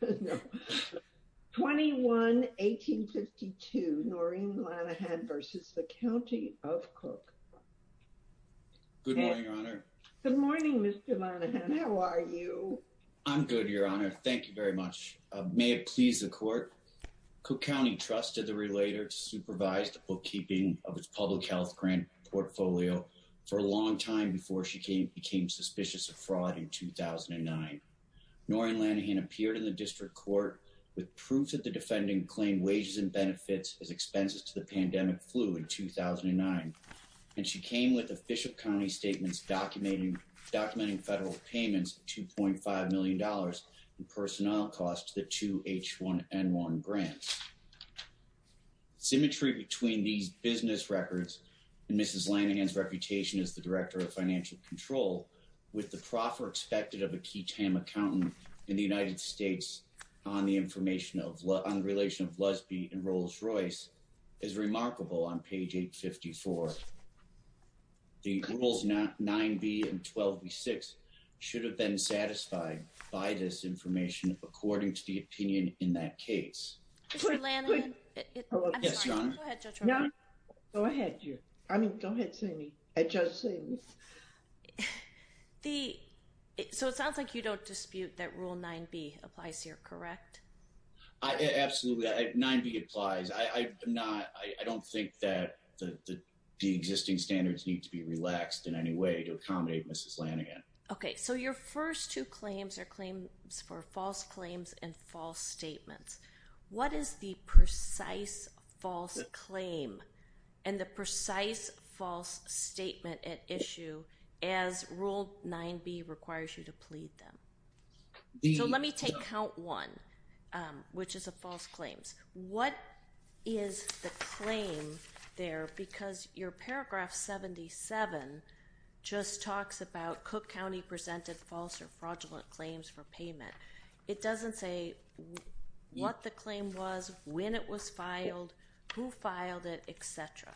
Good morning, Your Honor. Good morning, Mr. Lanahan. How are you? I'm good, Your Honor. Thank you very much. May it please the Court, Cook County trusted the relator to supervise the bookkeeping of its public health grant portfolio for a long time before she became suspicious of fraud in 2009. Noreen Lanahan appeared in the district court with proof that the defendant claimed wages and benefits as expenses to the pandemic flu in 2009, and she came with official county statements documenting federal payments of $2.5 million in personnel costs to the two H1N1 grants. Symmetry between these business records and Mrs. Lanahan's reputation as the Director of Financial Control with the proffer expected of a key TAM accountant in the United States on the information of, on the relation of Lesbi and Rolls-Royce is remarkable on page 854. The rules 9B and 12B6 should have been satisfied by this information according to the opinion in that case. Mr. Lanahan, I'm sorry. Go ahead, Judge Romer. Go ahead, you. I mean, go ahead, Sammy. Judge Sammy. The, so it sounds like you don't dispute that rule 9B applies here, correct? Absolutely. 9B applies. I'm not, I don't think that the existing standards need to be relaxed in any way to accommodate Mrs. Lanahan. Okay. So your first two claims are claims for false claim and the precise false statement at issue as rule 9B requires you to plead them. So let me take count one, which is a false claims. What is the claim there? Because your paragraph 77 just talks about Cook County presented false or fraudulent claims for payment. It doesn't say what the claim was, when it was filed, who filed it, et cetera.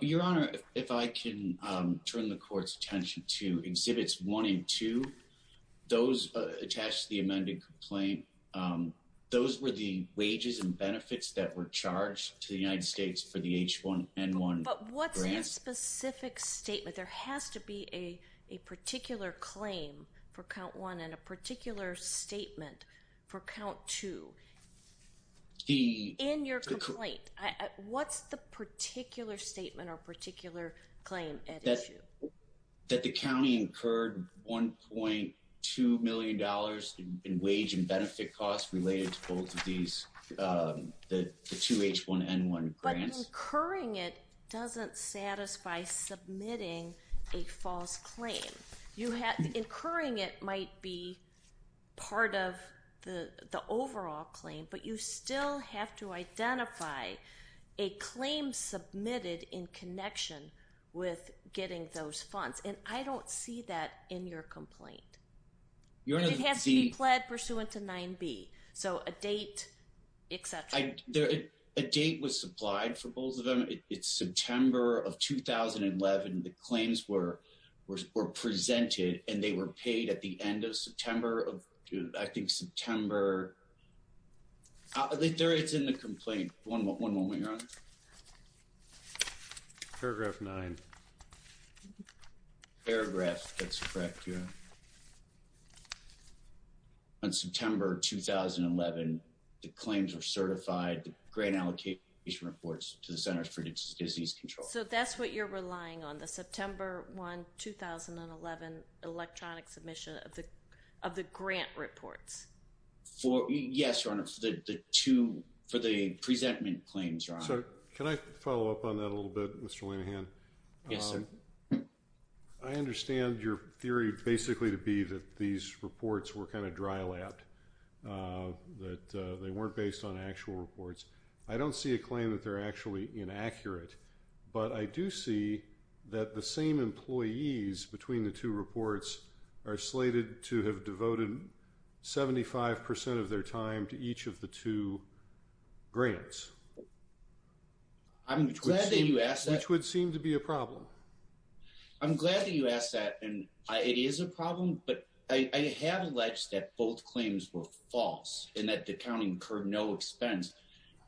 Your Honor, if I can turn the court's attention to exhibits one and two, those attached to the amended complaint, those were the wages and benefits that were charged to the United States for the H1N1 grant. But what's the specific statement? There has to be a particular claim for count one and a particular statement for count two. In your complaint, what's the particular statement or particular claim at issue? That the County incurred $1.2 million in wage and benefit costs related to both of these, the two H1N1 grants. But incurring it doesn't satisfy submitting a false claim. Incurring it might be part of the overall claim, but you still have to identify a claim submitted in connection with getting those funds. And I don't see that in your complaint. It has to be pled pursuant to 9B. So a date, et cetera. A date was supplied for September of 2011. The claims were presented and they were paid at the end of September of, I think, September. It's in the complaint. One moment, Your Honor. Paragraph nine. Paragraph, that's correct, Your Honor. On September 2011, the claims were certified, the grant allocation reports to the Centers for Disease Control. So that's what you're relying on, the September 1, 2011 electronic submission of the grant reports? Yes, Your Honor. For the two, for the presentment claims, Your Honor. Can I follow up on that a little bit, Mr. Lanihan? Yes, sir. I understand your theory basically to be that these reports were kind of dry-lapped, that they weren't based on actual reports. I don't see a claim that they're actually inaccurate. But I do see that the same employees between the two reports are slated to have devoted 75% of their time to each of the two grants. I'm glad that you asked that. Which would seem to be a problem. I'm glad that you asked that. And it is a problem. But I have alleged that both claims were false and that the accounting incurred no expense.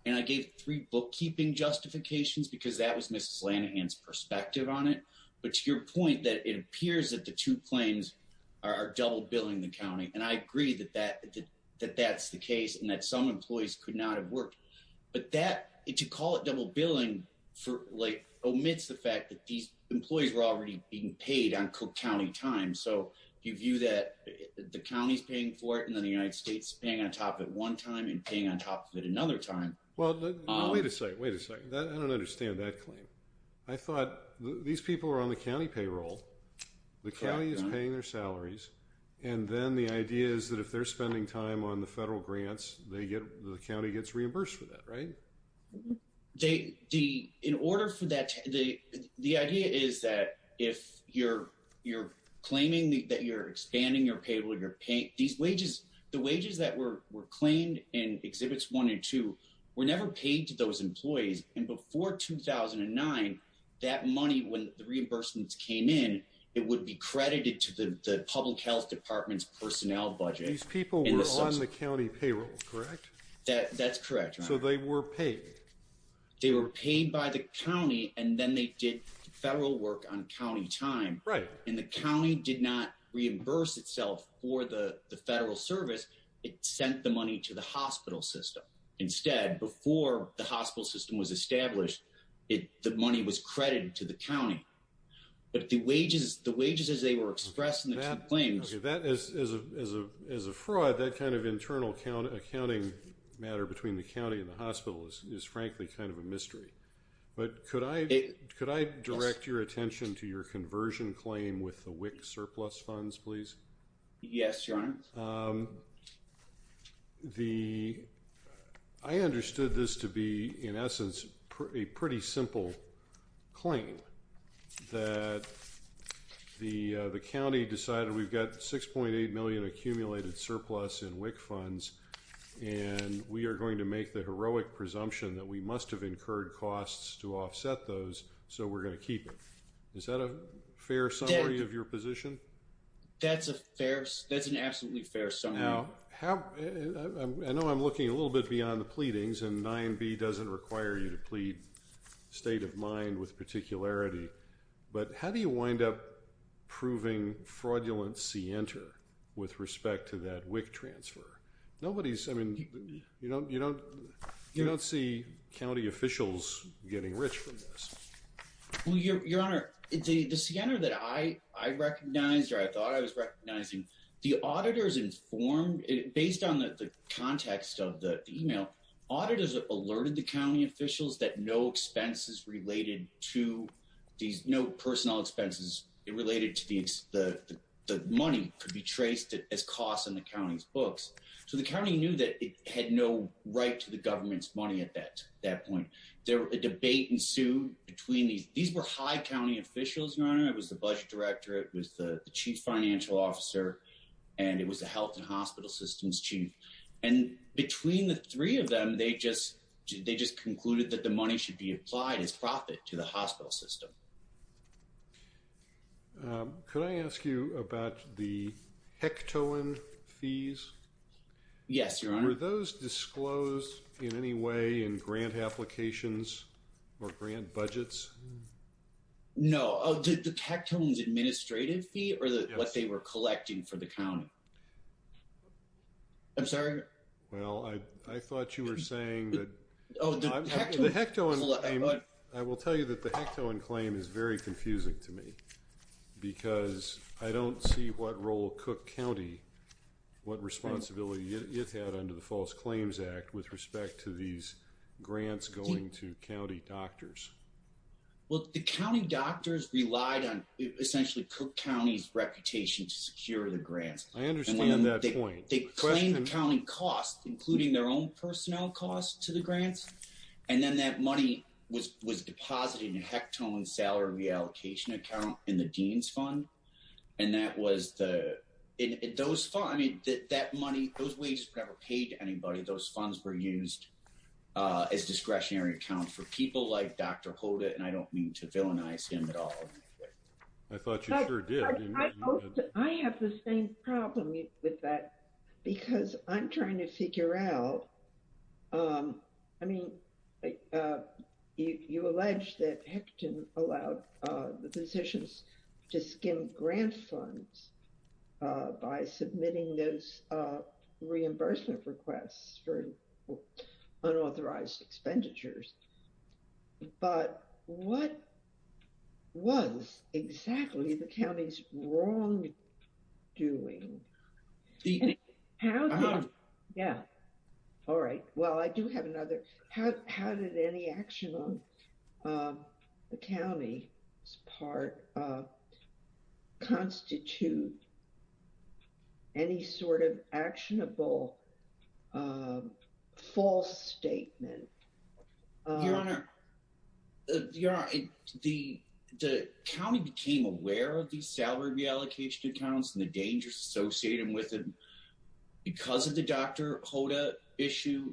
And I gave three bookkeeping justifications because that was Mrs. Lanihan's perspective on it. But to your point that it appears that the two claims are double billing the county. And I agree that that's the case and that some employees could not have worked. But that, to call it double billing, like omits the fact that these employees were already being paid on county time. So you view that the county's paying for it and then the United States paying on top of it one time and paying on top of it another time. Well, wait a second, wait a second. I don't understand that claim. I thought these people are on the county payroll, the county is paying their salaries. And then the idea is that if they're spending time on the federal grants, the county gets reimbursed for that, right? The idea is that if you're claiming that you're expanding your payroll, these wages, the wages that were claimed in Exhibits 1 and 2 were never paid to those employees. And before 2009, that money, when the reimbursements came in, it would be credited to the public health department's personnel budget. These people were on the county payroll, correct? That's correct. So they were paid. They were paid by the county and then they did federal work on county time. Right. And the county did not reimburse itself for the federal service. It sent the money to the hospital system. Instead, before the hospital system was established, the money was credited to the county. But the wages, the wages as they were expressed in the two claims... Okay, as a fraud, that kind of internal accounting matter between the county and the hospital is frankly kind of a mystery. But could I direct your attention to your conversion claim with the WIC surplus funds, please? Yes, Your Honor. Um, the... I understood this to be, in essence, a pretty simple claim that the, uh, the county decided we've got 6.8 million accumulated surplus in WIC funds and we are going to make the heroic presumption that we must have incurred costs to offset those so we're going to keep it. Is that a fair summary of your position? That's a fair... That's an absolutely fair summary. Now, how... I know I'm looking a little bit beyond the pleadings and 9b doesn't require you to plead state of mind with particularity, but how do you wind up proving fraudulent scienter with respect to that WIC transfer? Nobody's... I mean, you don't, you don't, you don't see county officials getting rich from this. Well, Your Honor, the scanner that I recognized or I thought I was recognizing, the auditors informed, based on the context of the email, auditors alerted the county officials that no expenses related to these, no personnel expenses related to the money could be traced as costs in the county's books. So the county knew that it had no right to the government's that point. There was a debate ensued between these. These were high county officials, Your Honor. It was the budget director, it was the chief financial officer, and it was the health and hospital systems chief. And between the three of them, they just, they just concluded that the money should be applied as profit to the hospital system. Could I ask you about the HECTOAN fees? Yes, Your Honor. Were those disclosed in any way in grant applications or grant budgets? No. Oh, did the HECTOAN's administrative fee or what they were collecting for the county? I'm sorry? Well, I thought you were saying that... I will tell you that the HECTOAN claim is very confusing to me because I don't see what role Cook County, what responsibility it had under the False Claims Act with respect to these grants going to county doctors. Well, the county doctors relied on essentially Cook County's reputation to secure the grants. I understand that point. They claimed the county costs, including their own personnel costs to the grants, and then that money was deposited in HECTOAN's salary reallocation account in the dean's fund. And that was the, those funds, I mean, that money, those wages were never paid to anybody. Those funds were used as discretionary accounts for people like Dr. Hoda, and I don't mean to villainize him at all. I thought you sure did. I have the same problem with that because I'm trying to figure out, um, I mean, you allege that HECTOAN allowed the physicians to skim grant funds by submitting those reimbursement requests for unauthorized expenditures. But what was exactly the county's wrongdoing? How did, yeah, all right, well, I do have another, how did any action on the county's part constitute any sort of actionable false statement? Your Honor, the county became aware of these salary reallocation accounts and the dangers associated with them. Because of the Dr. Hoda issue,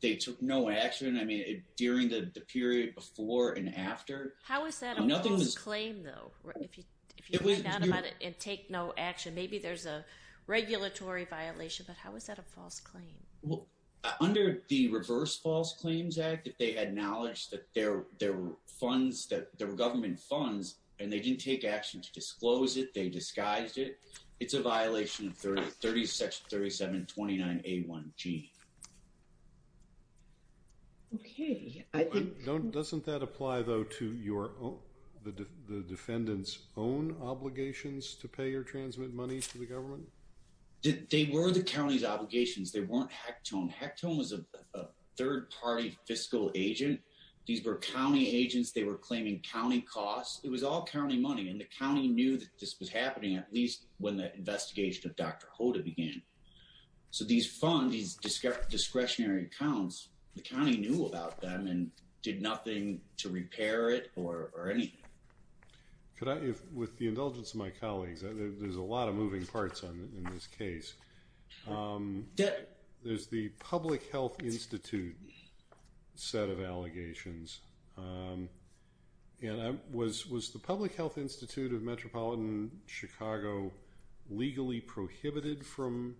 they took no action. I mean, during the period before and after. How is that a false claim though, if you find out about it and take no action? Maybe there's a regulatory violation, but how is that a false claim? Well, under the Reverse False Claims Act, if they had knowledge that there were funds, that there were government funds, and they didn't take action to disclose it, they disguised it, it's a violation of 36-37-29-A-1-T. Okay, I think... Don't, doesn't that apply though to your own, the defendant's own obligations to pay or transmit money to the government? They were the county's obligations. They weren't HECTOAN. HECTOAN was a third-party fiscal agent. These were county agents. They were claiming county costs. It was all county money, and the county knew that this was happening, at least when the investigation of Dr. Hoda began. So these funds, these discretionary accounts, the county knew about them and did nothing to repair it or anything. Could I, with the indulgence of my colleagues, there's a lot of moving parts in this case. There's the Public Health Institute set of allegations. And was the Public Health Institute of Metropolitan Chicago legally prohibited from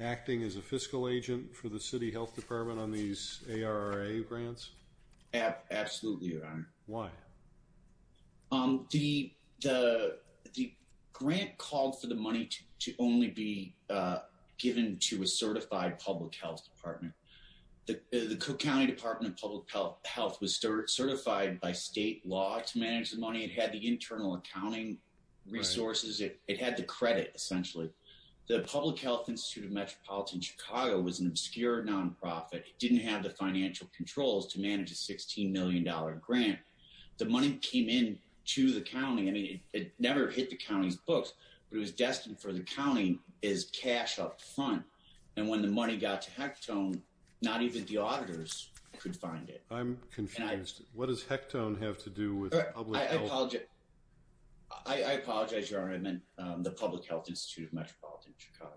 acting as a fiscal agent for the city health department on these ARRA grants? Absolutely, Your Honor. Why? The grant called for the money to only be given to a certified public health department. The Cook County Department of Public Health was certified by state law to manage the money. It had the internal accounting resources. It had the credit, essentially. The Public Health Institute of Metropolitan Chicago was an obscure non-profit. It didn't have the financial controls to manage a $16 million grant. The money came in to the county. I mean, it never hit the county's books, but it was destined for the county as cash up front. And when the money got to Hectone, not even the auditors could find it. I'm confused. What does Hectone have to do with public health? I apologize, Your Honor. I meant the Public Health Institute of Metropolitan Chicago.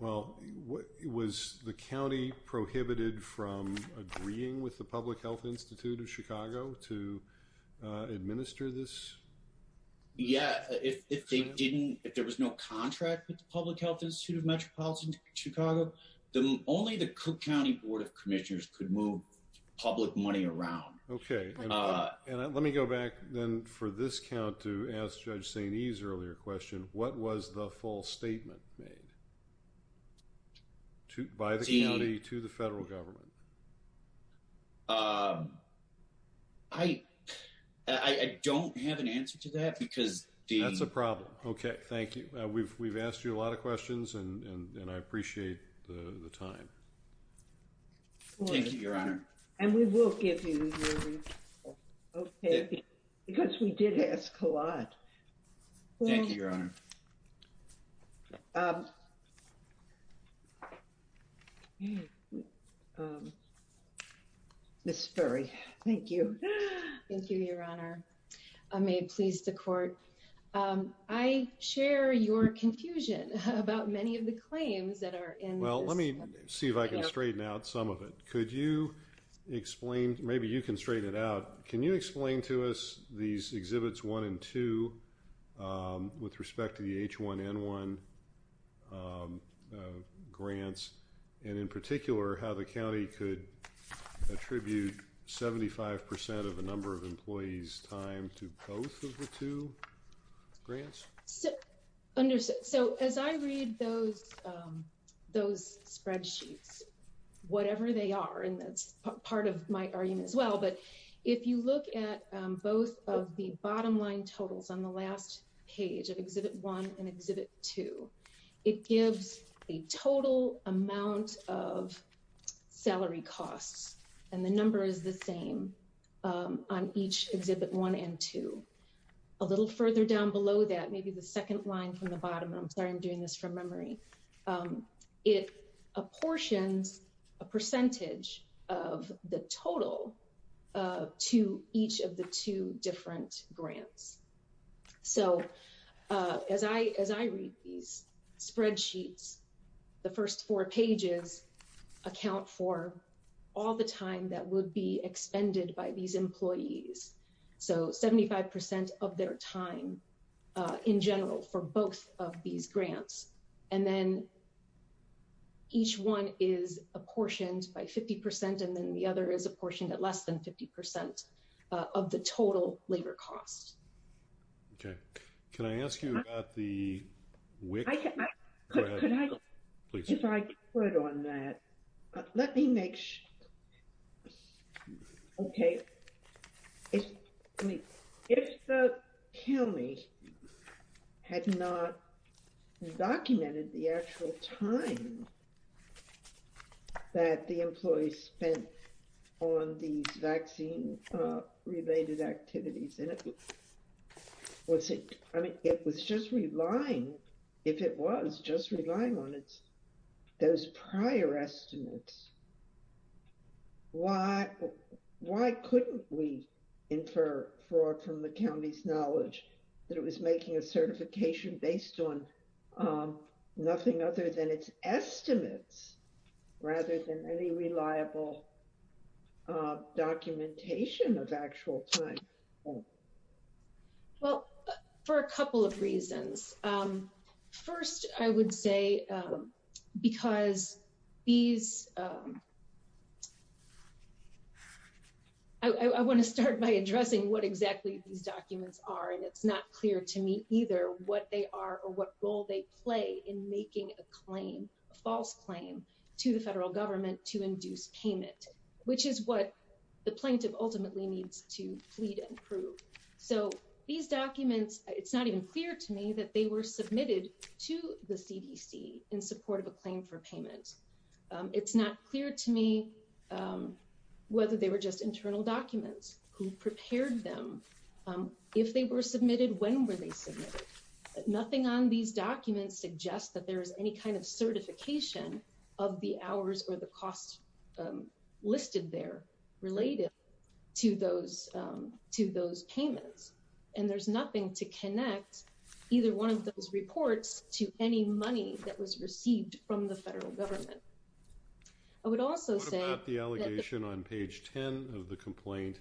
Well, was the county prohibited from agreeing with the Public Health Institute of Chicago to administer this? Yeah, if there was no contract with the Public Health Institute of Metropolitan Chicago, only the Cook County Board of Commissioners could move public money around. Okay. And let me go back then for this count to ask Judge St. Eve's earlier question. What was the false statement made by the county to the federal government? I don't have an answer to that because the- That's a problem. Okay. Thank you. We've asked you a lot of questions and I appreciate the time. Thank you, Your Honor. And we will give you your response, okay? Because we did ask a lot. Thank you, Your Honor. Ms. Ferry, thank you. Thank you, Your Honor. May it please the court. I share your confusion about many of the claims that are in this- Well, let me see if I can straighten out some of it. Could you explain? Maybe you can straighten it out. Can you explain to us these Exhibits 1 and 2 with respect to the H1N1 grants and in particular how the county could attribute 75% of a number of employees' time to both of the two? Grants? So as I read those spreadsheets, whatever they are, and that's part of my argument as well, but if you look at both of the bottom line totals on the last page of Exhibit 1 and Exhibit 2, it gives a total amount of salary costs and the number is the same on each Exhibit 1 and 2. A little further down below that, maybe the second line from the bottom, I'm sorry, I'm doing this from memory, it apportions a percentage of the total to each of the two different grants. So as I read these spreadsheets, the first four pages account for all the time that would be expended by these employees. So 75% of their time in general for both of these grants and then each one is apportioned by 50% and then the other is apportioned at less than 50% of the total labor costs. Okay, can I ask you about the WIC? Could I, if I could on that, let me make sure, okay. I mean, if the county had not documented the actual time that the employees spent on these vaccine-related activities and it was just relying, if it was just relying on it, those prior estimates, why couldn't we infer from the county's knowledge that it was making a certification based on nothing other than its estimates rather than any reliable documentation of actual time? Well, for a couple of reasons. First, I would say because these, I wanna start by addressing what exactly these documents are and it's not clear to me either what they are or what role they play in making a claim, a false claim to the federal government to induce payment, which is what the plaintiff ultimately needs to plead and prove. So these documents, it's not even clear to me that they were submitted to the CDC in support of a claim for payment. It's not clear to me whether they were just internal documents who prepared them. If they were submitted, when were they submitted? Nothing on these documents suggests that there is any kind of certification of the hours or the costs listed there related to those payments. And there's nothing to connect either one of those reports to any money that was received from the federal government. I would also say- What about the allegation on page 10 of the complaint,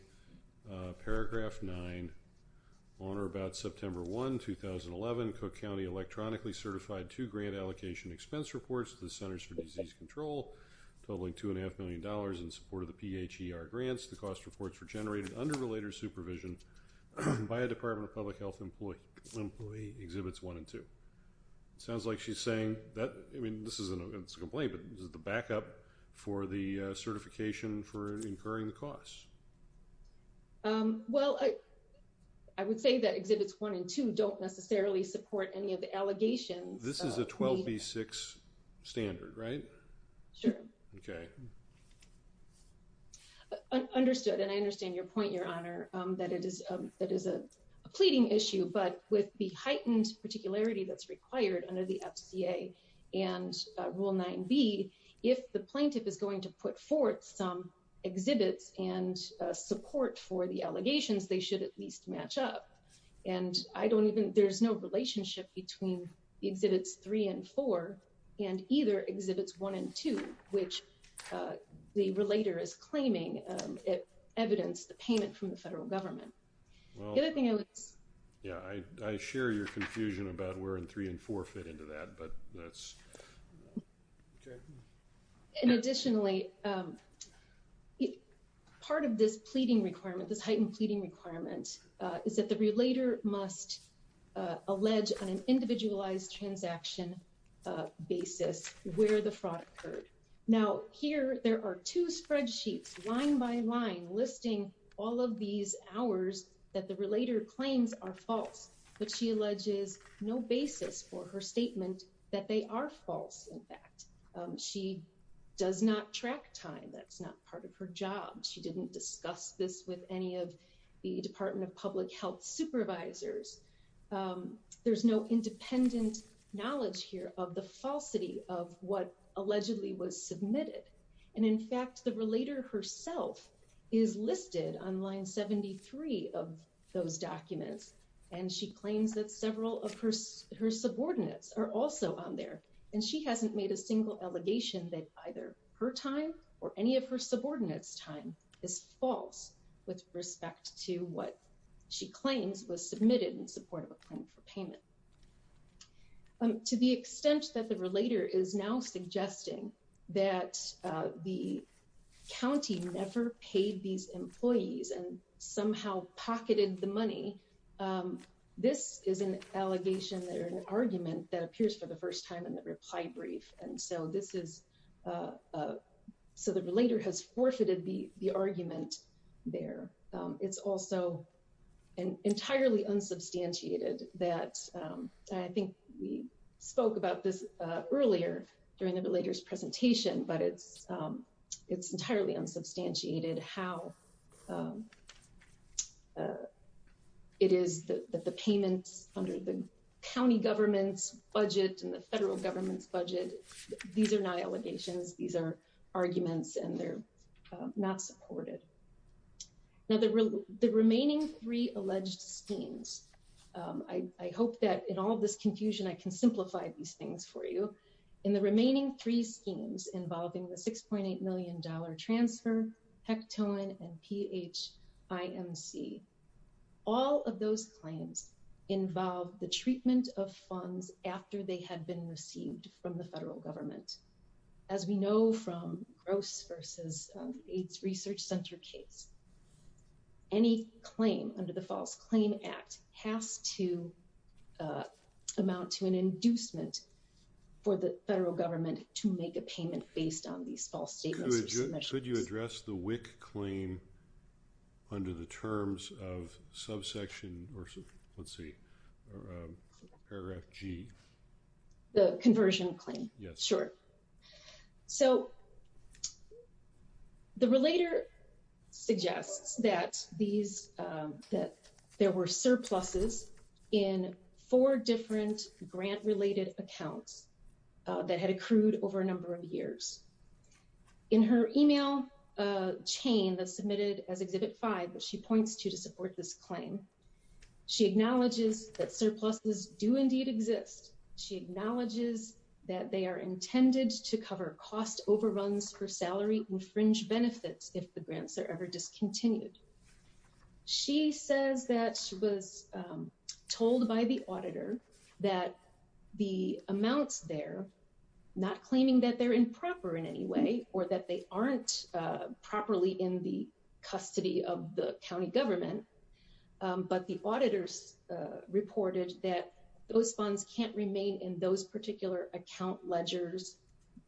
paragraph nine, on or about September 1, 2011, Cook County electronically certified two grant allocation expense reports to the Centers for Disease Control, totaling $2.5 million in support of the PHER grants. The cost reports were generated under related supervision by a Department of Public Health employee, exhibits one and two. It sounds like she's saying that, I mean, this isn't a complaint, but this is the backup for the certification for incurring the cost. Well, I would say that exhibits one and two don't necessarily support any of the allegations. This is a 12B6 standard, right? Sure. Okay. Understood. And I understand your point, Your Honor, that it is a pleading issue, but with the heightened particularity that's required under the FCA and rule 9B, if the plaintiff is going to put forth some exhibits and support for the allegations, they should at least match up. And I don't even, there's no relationship between the exhibits three and four and either exhibits one and two, which the relator is claiming it evidenced the payment from the federal government. Well, yeah, I share your confusion about where in three and four fit into that, but that's... And additionally, part of this pleading requirement, this heightened pleading requirement, is that the relator must allege on an individualized transaction basis where the fraud occurred. Now here, there are two spreadsheets line by line listing all of these hours that the relator claims are false, but she alleges no basis for her statement that they are false. In fact, she does not track time. That's not part of her job. She didn't discuss this with any of the Department of Public Health supervisors. There's no independent knowledge here of the falsity of what allegedly was submitted. And in fact, the relator herself is listed on line 73 of those documents. And she claims that several of her subordinates are also on there. And she hasn't made a single allegation that either her time or any of her subordinates' time is false with respect to what she claims was submitted in support of a claim for payment. To the extent that the relator is now suggesting that the county never paid these employees and somehow pocketed the money, this is an allegation or an argument that appears for the first time in the reply brief. And so this is, so the relator has forfeited the argument there. It's also entirely unsubstantiated that I think we spoke about this earlier during the relator's presentation, but it's entirely unsubstantiated how it is that the payments under the county government's budget and the federal government's budget, these are not allegations. These are arguments and they're not supported. Now, the remaining three alleged schemes I hope that in all of this confusion, I can simplify these things for you. In the remaining three schemes involving the $6.8 million transfer, Hectoan and PHIMC, all of those claims involve the treatment of funds after they had been received from the federal government. As we know from Gross versus AIDS Research Center case, any claim under the False Claim Act has to amount to an inducement for the federal government to make a payment based on these false statements. Could you address the WIC claim under the terms of subsection or let's see, paragraph G? The conversion claim? Yes. Sure. So the relator suggests that these, that there were surpluses in four different grant-related accounts that had accrued over a number of years. In her email chain that's submitted as Exhibit 5 that she points to to support this claim, she acknowledges that surpluses do indeed exist. She acknowledges that they are intended to cover cost overruns per salary and fringe benefits if the grants are ever discontinued. She says that she was told by the auditor that the amounts there, not claiming that they're improper in any way or that they aren't properly in the custody of the county government, but the auditors reported that those funds can't remain in those particular account ledgers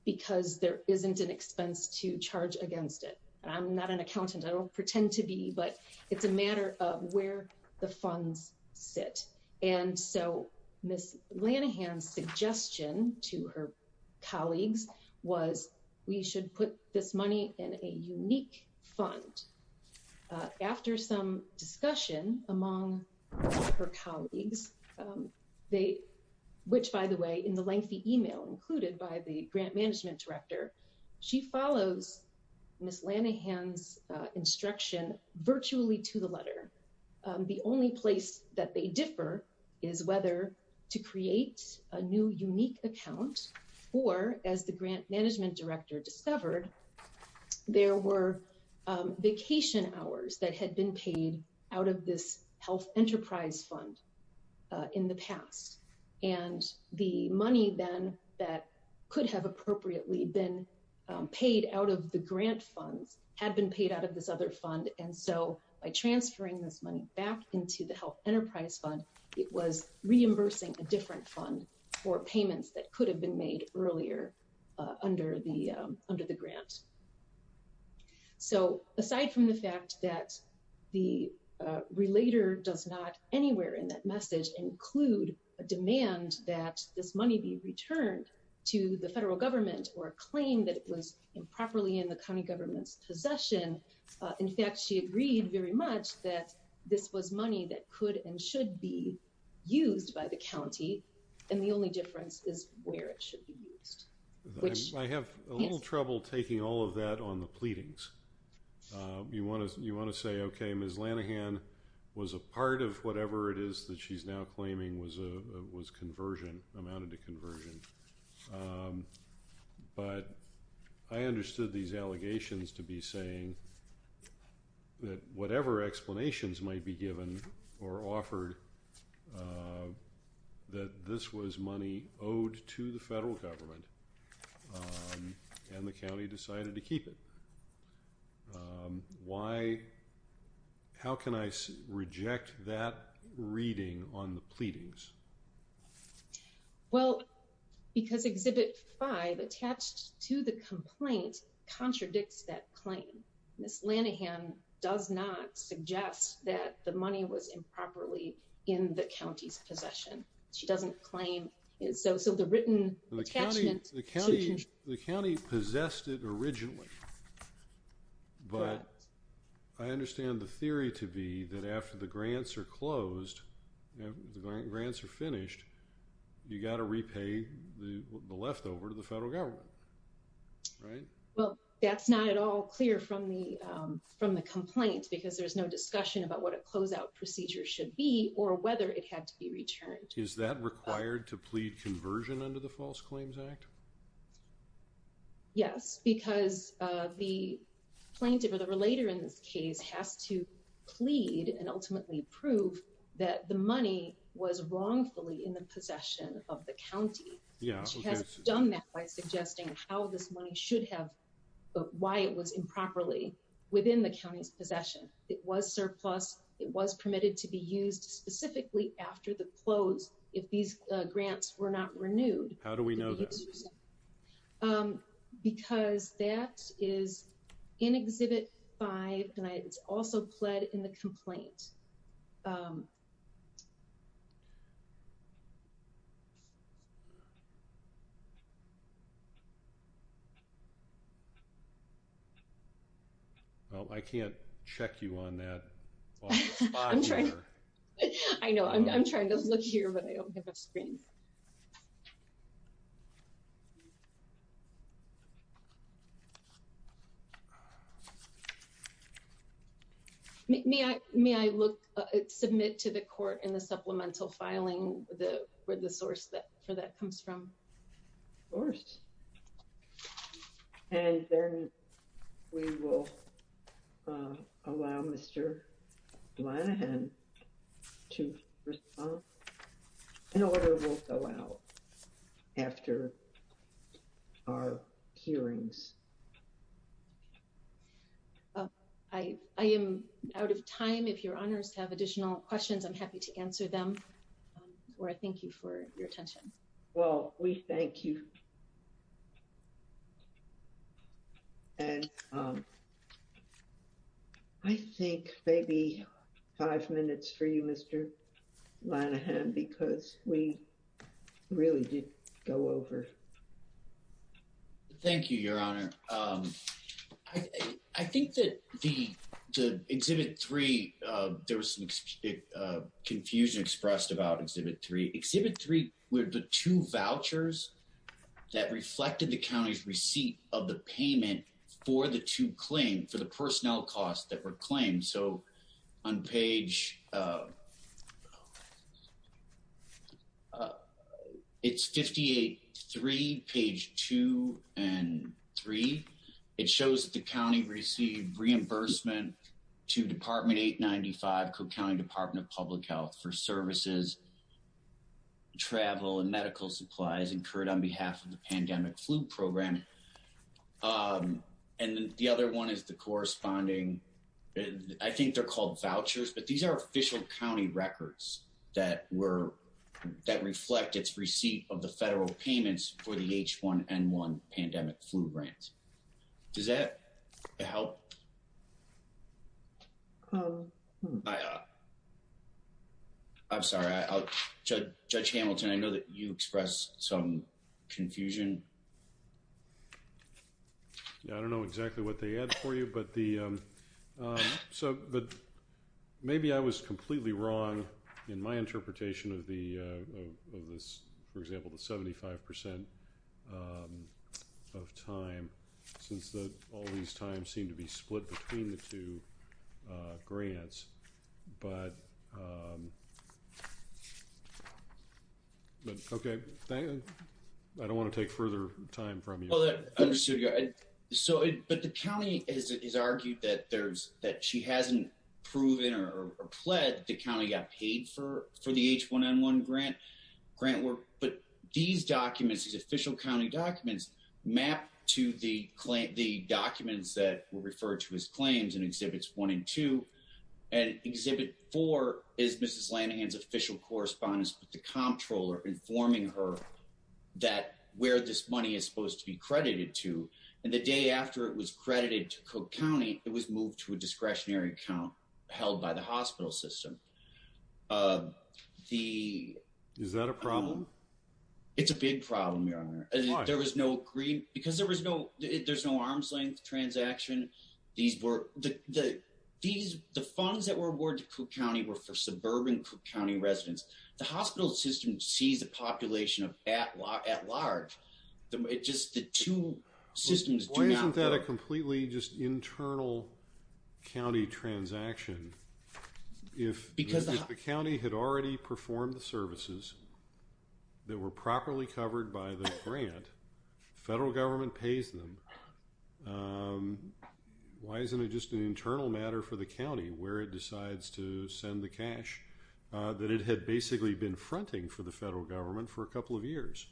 because there isn't an expense to charge against it. I'm not an accountant, I don't pretend to be, but it's a matter of where the funds sit. And so Ms. Lanahan's suggestion to her colleagues was we should put this money in a unique fund. After some discussion among her colleagues, which by the way, in the lengthy email included by the grant management director, she follows Ms. Lanahan's instruction virtually to the letter. The only place that they differ is whether to create a new unique account or as the grant management director discovered, there were vacation hours that had been paid out of this health enterprise fund in the past. And the money then that could have appropriately been paid out of the grant funds had been paid out of this other fund and so by transferring this money back into the health enterprise fund, it was reimbursing a different fund for payments that could have been made earlier under the grant. So aside from the fact that the relator does not anywhere in that message include a demand that this money be returned to the federal government or claim that it was improperly in the county government's possession. In fact, she agreed very much that this was money that could and should be used by the county. And the only difference is where it should be used. Which- I have a little trouble taking all of that on the pleadings. You wanna say, okay, Ms. Lanahan was a part of whatever it is that she's now claiming was conversion, amounted to conversion. But I understood these allegations to be saying that whatever explanations might be given or offered that this was money owed to the federal government and the county decided to keep it. Why, how can I reject that reading on the pleadings? Well, because exhibit five attached to the complaint contradicts that claim. Ms. Lanahan does not suggest that the money was improperly in the county's possession. She doesn't claim it. So the written attachment- The county possessed it originally. But I understand the theory to be that after the grants are closed, the grants are finished, you gotta repay the leftover to the federal government. Right? Well, that's not at all clear from the complaint because there's no discussion about what a closeout procedure should be or whether it had to be returned. Is that required to plead conversion under the False Claims Act? Yes, because the plaintiff or the relator in this case has to plead and ultimately prove that the money was wrongfully in the possession of the county. Yeah, okay. I'm not suggesting how this money should have, why it was improperly within the county's possession. It was surplus. It was permitted to be used specifically after the close if these grants were not renewed. How do we know that? Because that is in exhibit five and it's also pled in the complaint. Well, I can't check you on that. I know, I'm trying to look here, but I don't have a screen. May I look, submit to the court in the supplemental filing where the source for that comes from? Of course, and then we will allow Mr. Lanihan to respond in order we'll allow after our hearings. I am out of time. If your honors have additional questions, I'm happy to answer them or I thank you for your attention. Well, we thank you. And I think maybe five minutes for you, Mr. Lanihan, because we really did go over. Thank you, your honor. I think that the exhibit three, there was some confusion expressed about exhibit three. Exhibit three were the two vouchers that reflected the county's receipt of the payment for the two claims, for the personnel costs that were claimed. So on page, it's 58-3, page two and three, it shows that the county received reimbursement to department 895 Cook County Department of Public Health for services, travel and medical supplies incurred on behalf of the pandemic flu program. And then the other one is the corresponding, I think they're called vouchers, but these are official county records that reflect its receipt of the federal payments for the H1N1 pandemic flu grants. Does that help? I'm sorry, Judge Hamilton, I know that you expressed some confusion. Yeah, I don't know exactly what they had for you, but maybe I was completely wrong in my interpretation of this, for example, the 75% of time, since all these times seem to be split between the two grants. But, okay. I don't wanna take further time from you. Well, understood. But the county has argued that she hasn't proven or pled the county got paid for the H1N1 grant work, but these documents, these official county documents map to the documents that were referred to as claims in exhibits one and two, and exhibit four is Mrs. Lanahan's official correspondence with the comptroller informing her that where this money is supposed to be credited to. And the day after it was credited to Cook County, it was moved to a discretionary account held by the hospital system. Is that a problem? It's a big problem, Your Honor. There was no green, because there's no arm's length transaction. These were, the funds that were awarded to Cook County were for suburban Cook County residents. The hospital system sees a population at large. Just the two systems do not- Or isn't that a completely just internal county transaction? If the county had already performed the services that were properly covered by the grant, federal government pays them, why isn't it just an internal matter for the county where it decides to send the cash that it had basically been fronting for the federal government for a couple of years?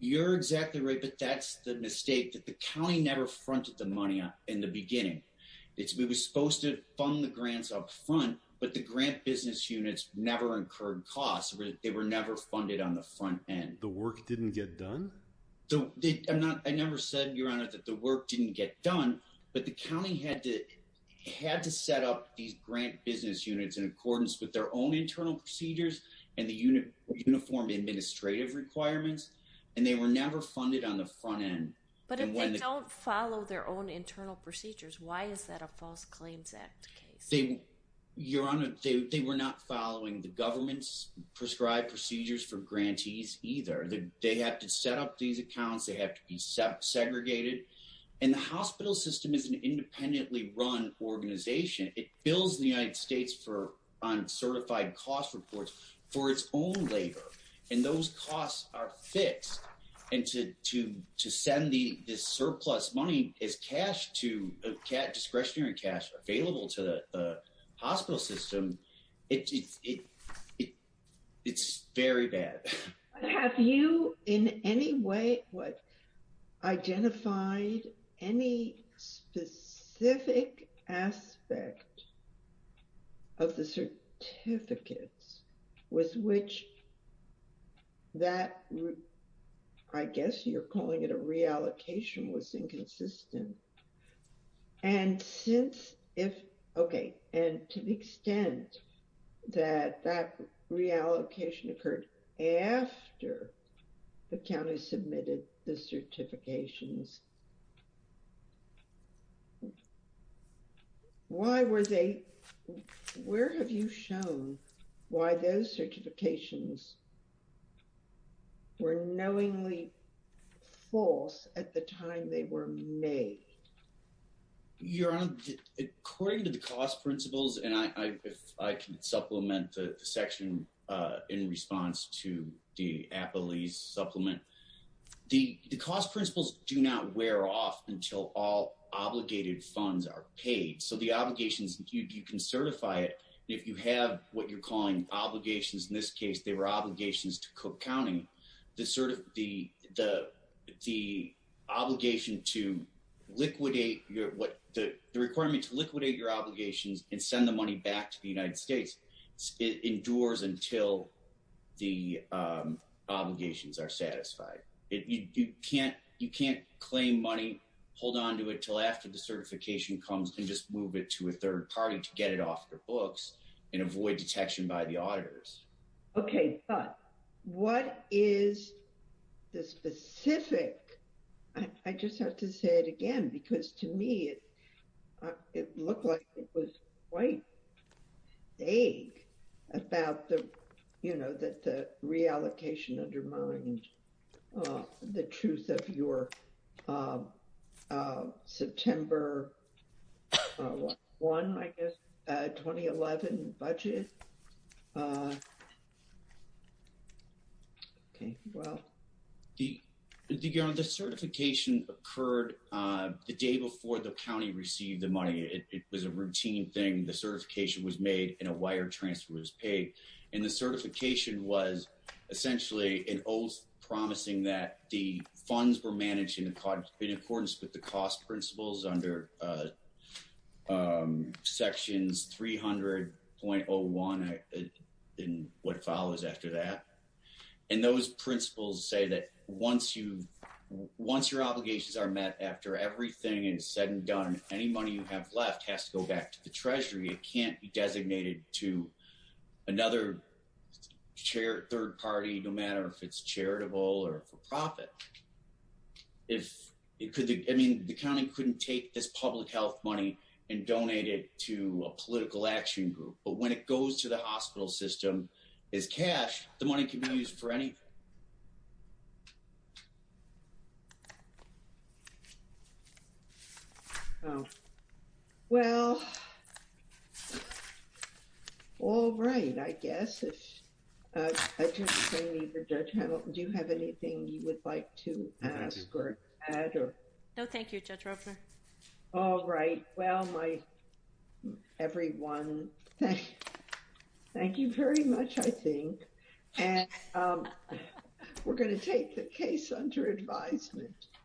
You're exactly right, but that's the mistake that the county never fronted the money up in the beginning. It was supposed to fund the grants up front, but the grant business units never incurred costs. They were never funded on the front end. The work didn't get done? I never said, Your Honor, that the work didn't get done, but the county had to set up these grant business units in accordance with their own internal procedures and the uniform administrative requirements, and they were never funded on the front end. But if they don't follow their own internal procedures, why is that a False Claims Act case? Your Honor, they were not following the government's prescribed procedures for grantees either. They had to set up these accounts. They have to be segregated. And the hospital system is an independently run organization. It bills the United States on certified cost reports for its own labor, and those costs are fixed. And to send this surplus money as cash, discretionary cash available to the hospital system, it's very bad. Have you in any way, what, identified any specific aspect of the certificates with which that, I guess you're calling it a reallocation, was inconsistent? And since if, okay, and to the extent that that reallocation occurred after the county submitted the certifications, why were they, where have you shown why those certifications were knowingly false at the time they were made? Your Honor, according to the cost principles, and I can supplement the section in response to the Applease supplement, the cost principles do not wear off until all obligated funds are paid. So the obligations, you can certify it. If you have what you're calling obligations, in this case, they were obligations to Cook County, the obligation to liquidate your, what the requirement to liquidate your obligations and send the money back to the United States, it endures until the obligations are satisfied. You can't claim money, hold onto it till after the certification comes and just move it to a third party to get it off your books and avoid detection by the auditors. Okay, but what is the specific, I just have to say it again, because to me, it looked like it was quite vague about the, you know, that the reallocation undermined the truth of your September 1, I guess, 2011 budget. Okay, well. The certification occurred the day before the county received the money. It was a routine thing. The certification was made and a wire transfer was paid. And the certification was essentially, it was promising that the funds were managed in accordance with the cost principles under sections 300.01 and what follows after that. And those principles say that once your obligations are met, after everything is said and done, any money you have left has to go back to the treasury. It can't be designated to another third party, no matter if it's charitable or for profit. The county couldn't take this public health money and donate it to a political action group. But when it goes to the hospital system as cash, the money can be used for anything. Oh, well, all right. I guess if I just say to Judge Hamilton, do you have anything you would like to ask or add? No, thank you, Judge Roper. All right. Well, my, everyone, thank you very much, I think. And we're going to take the case under advisement.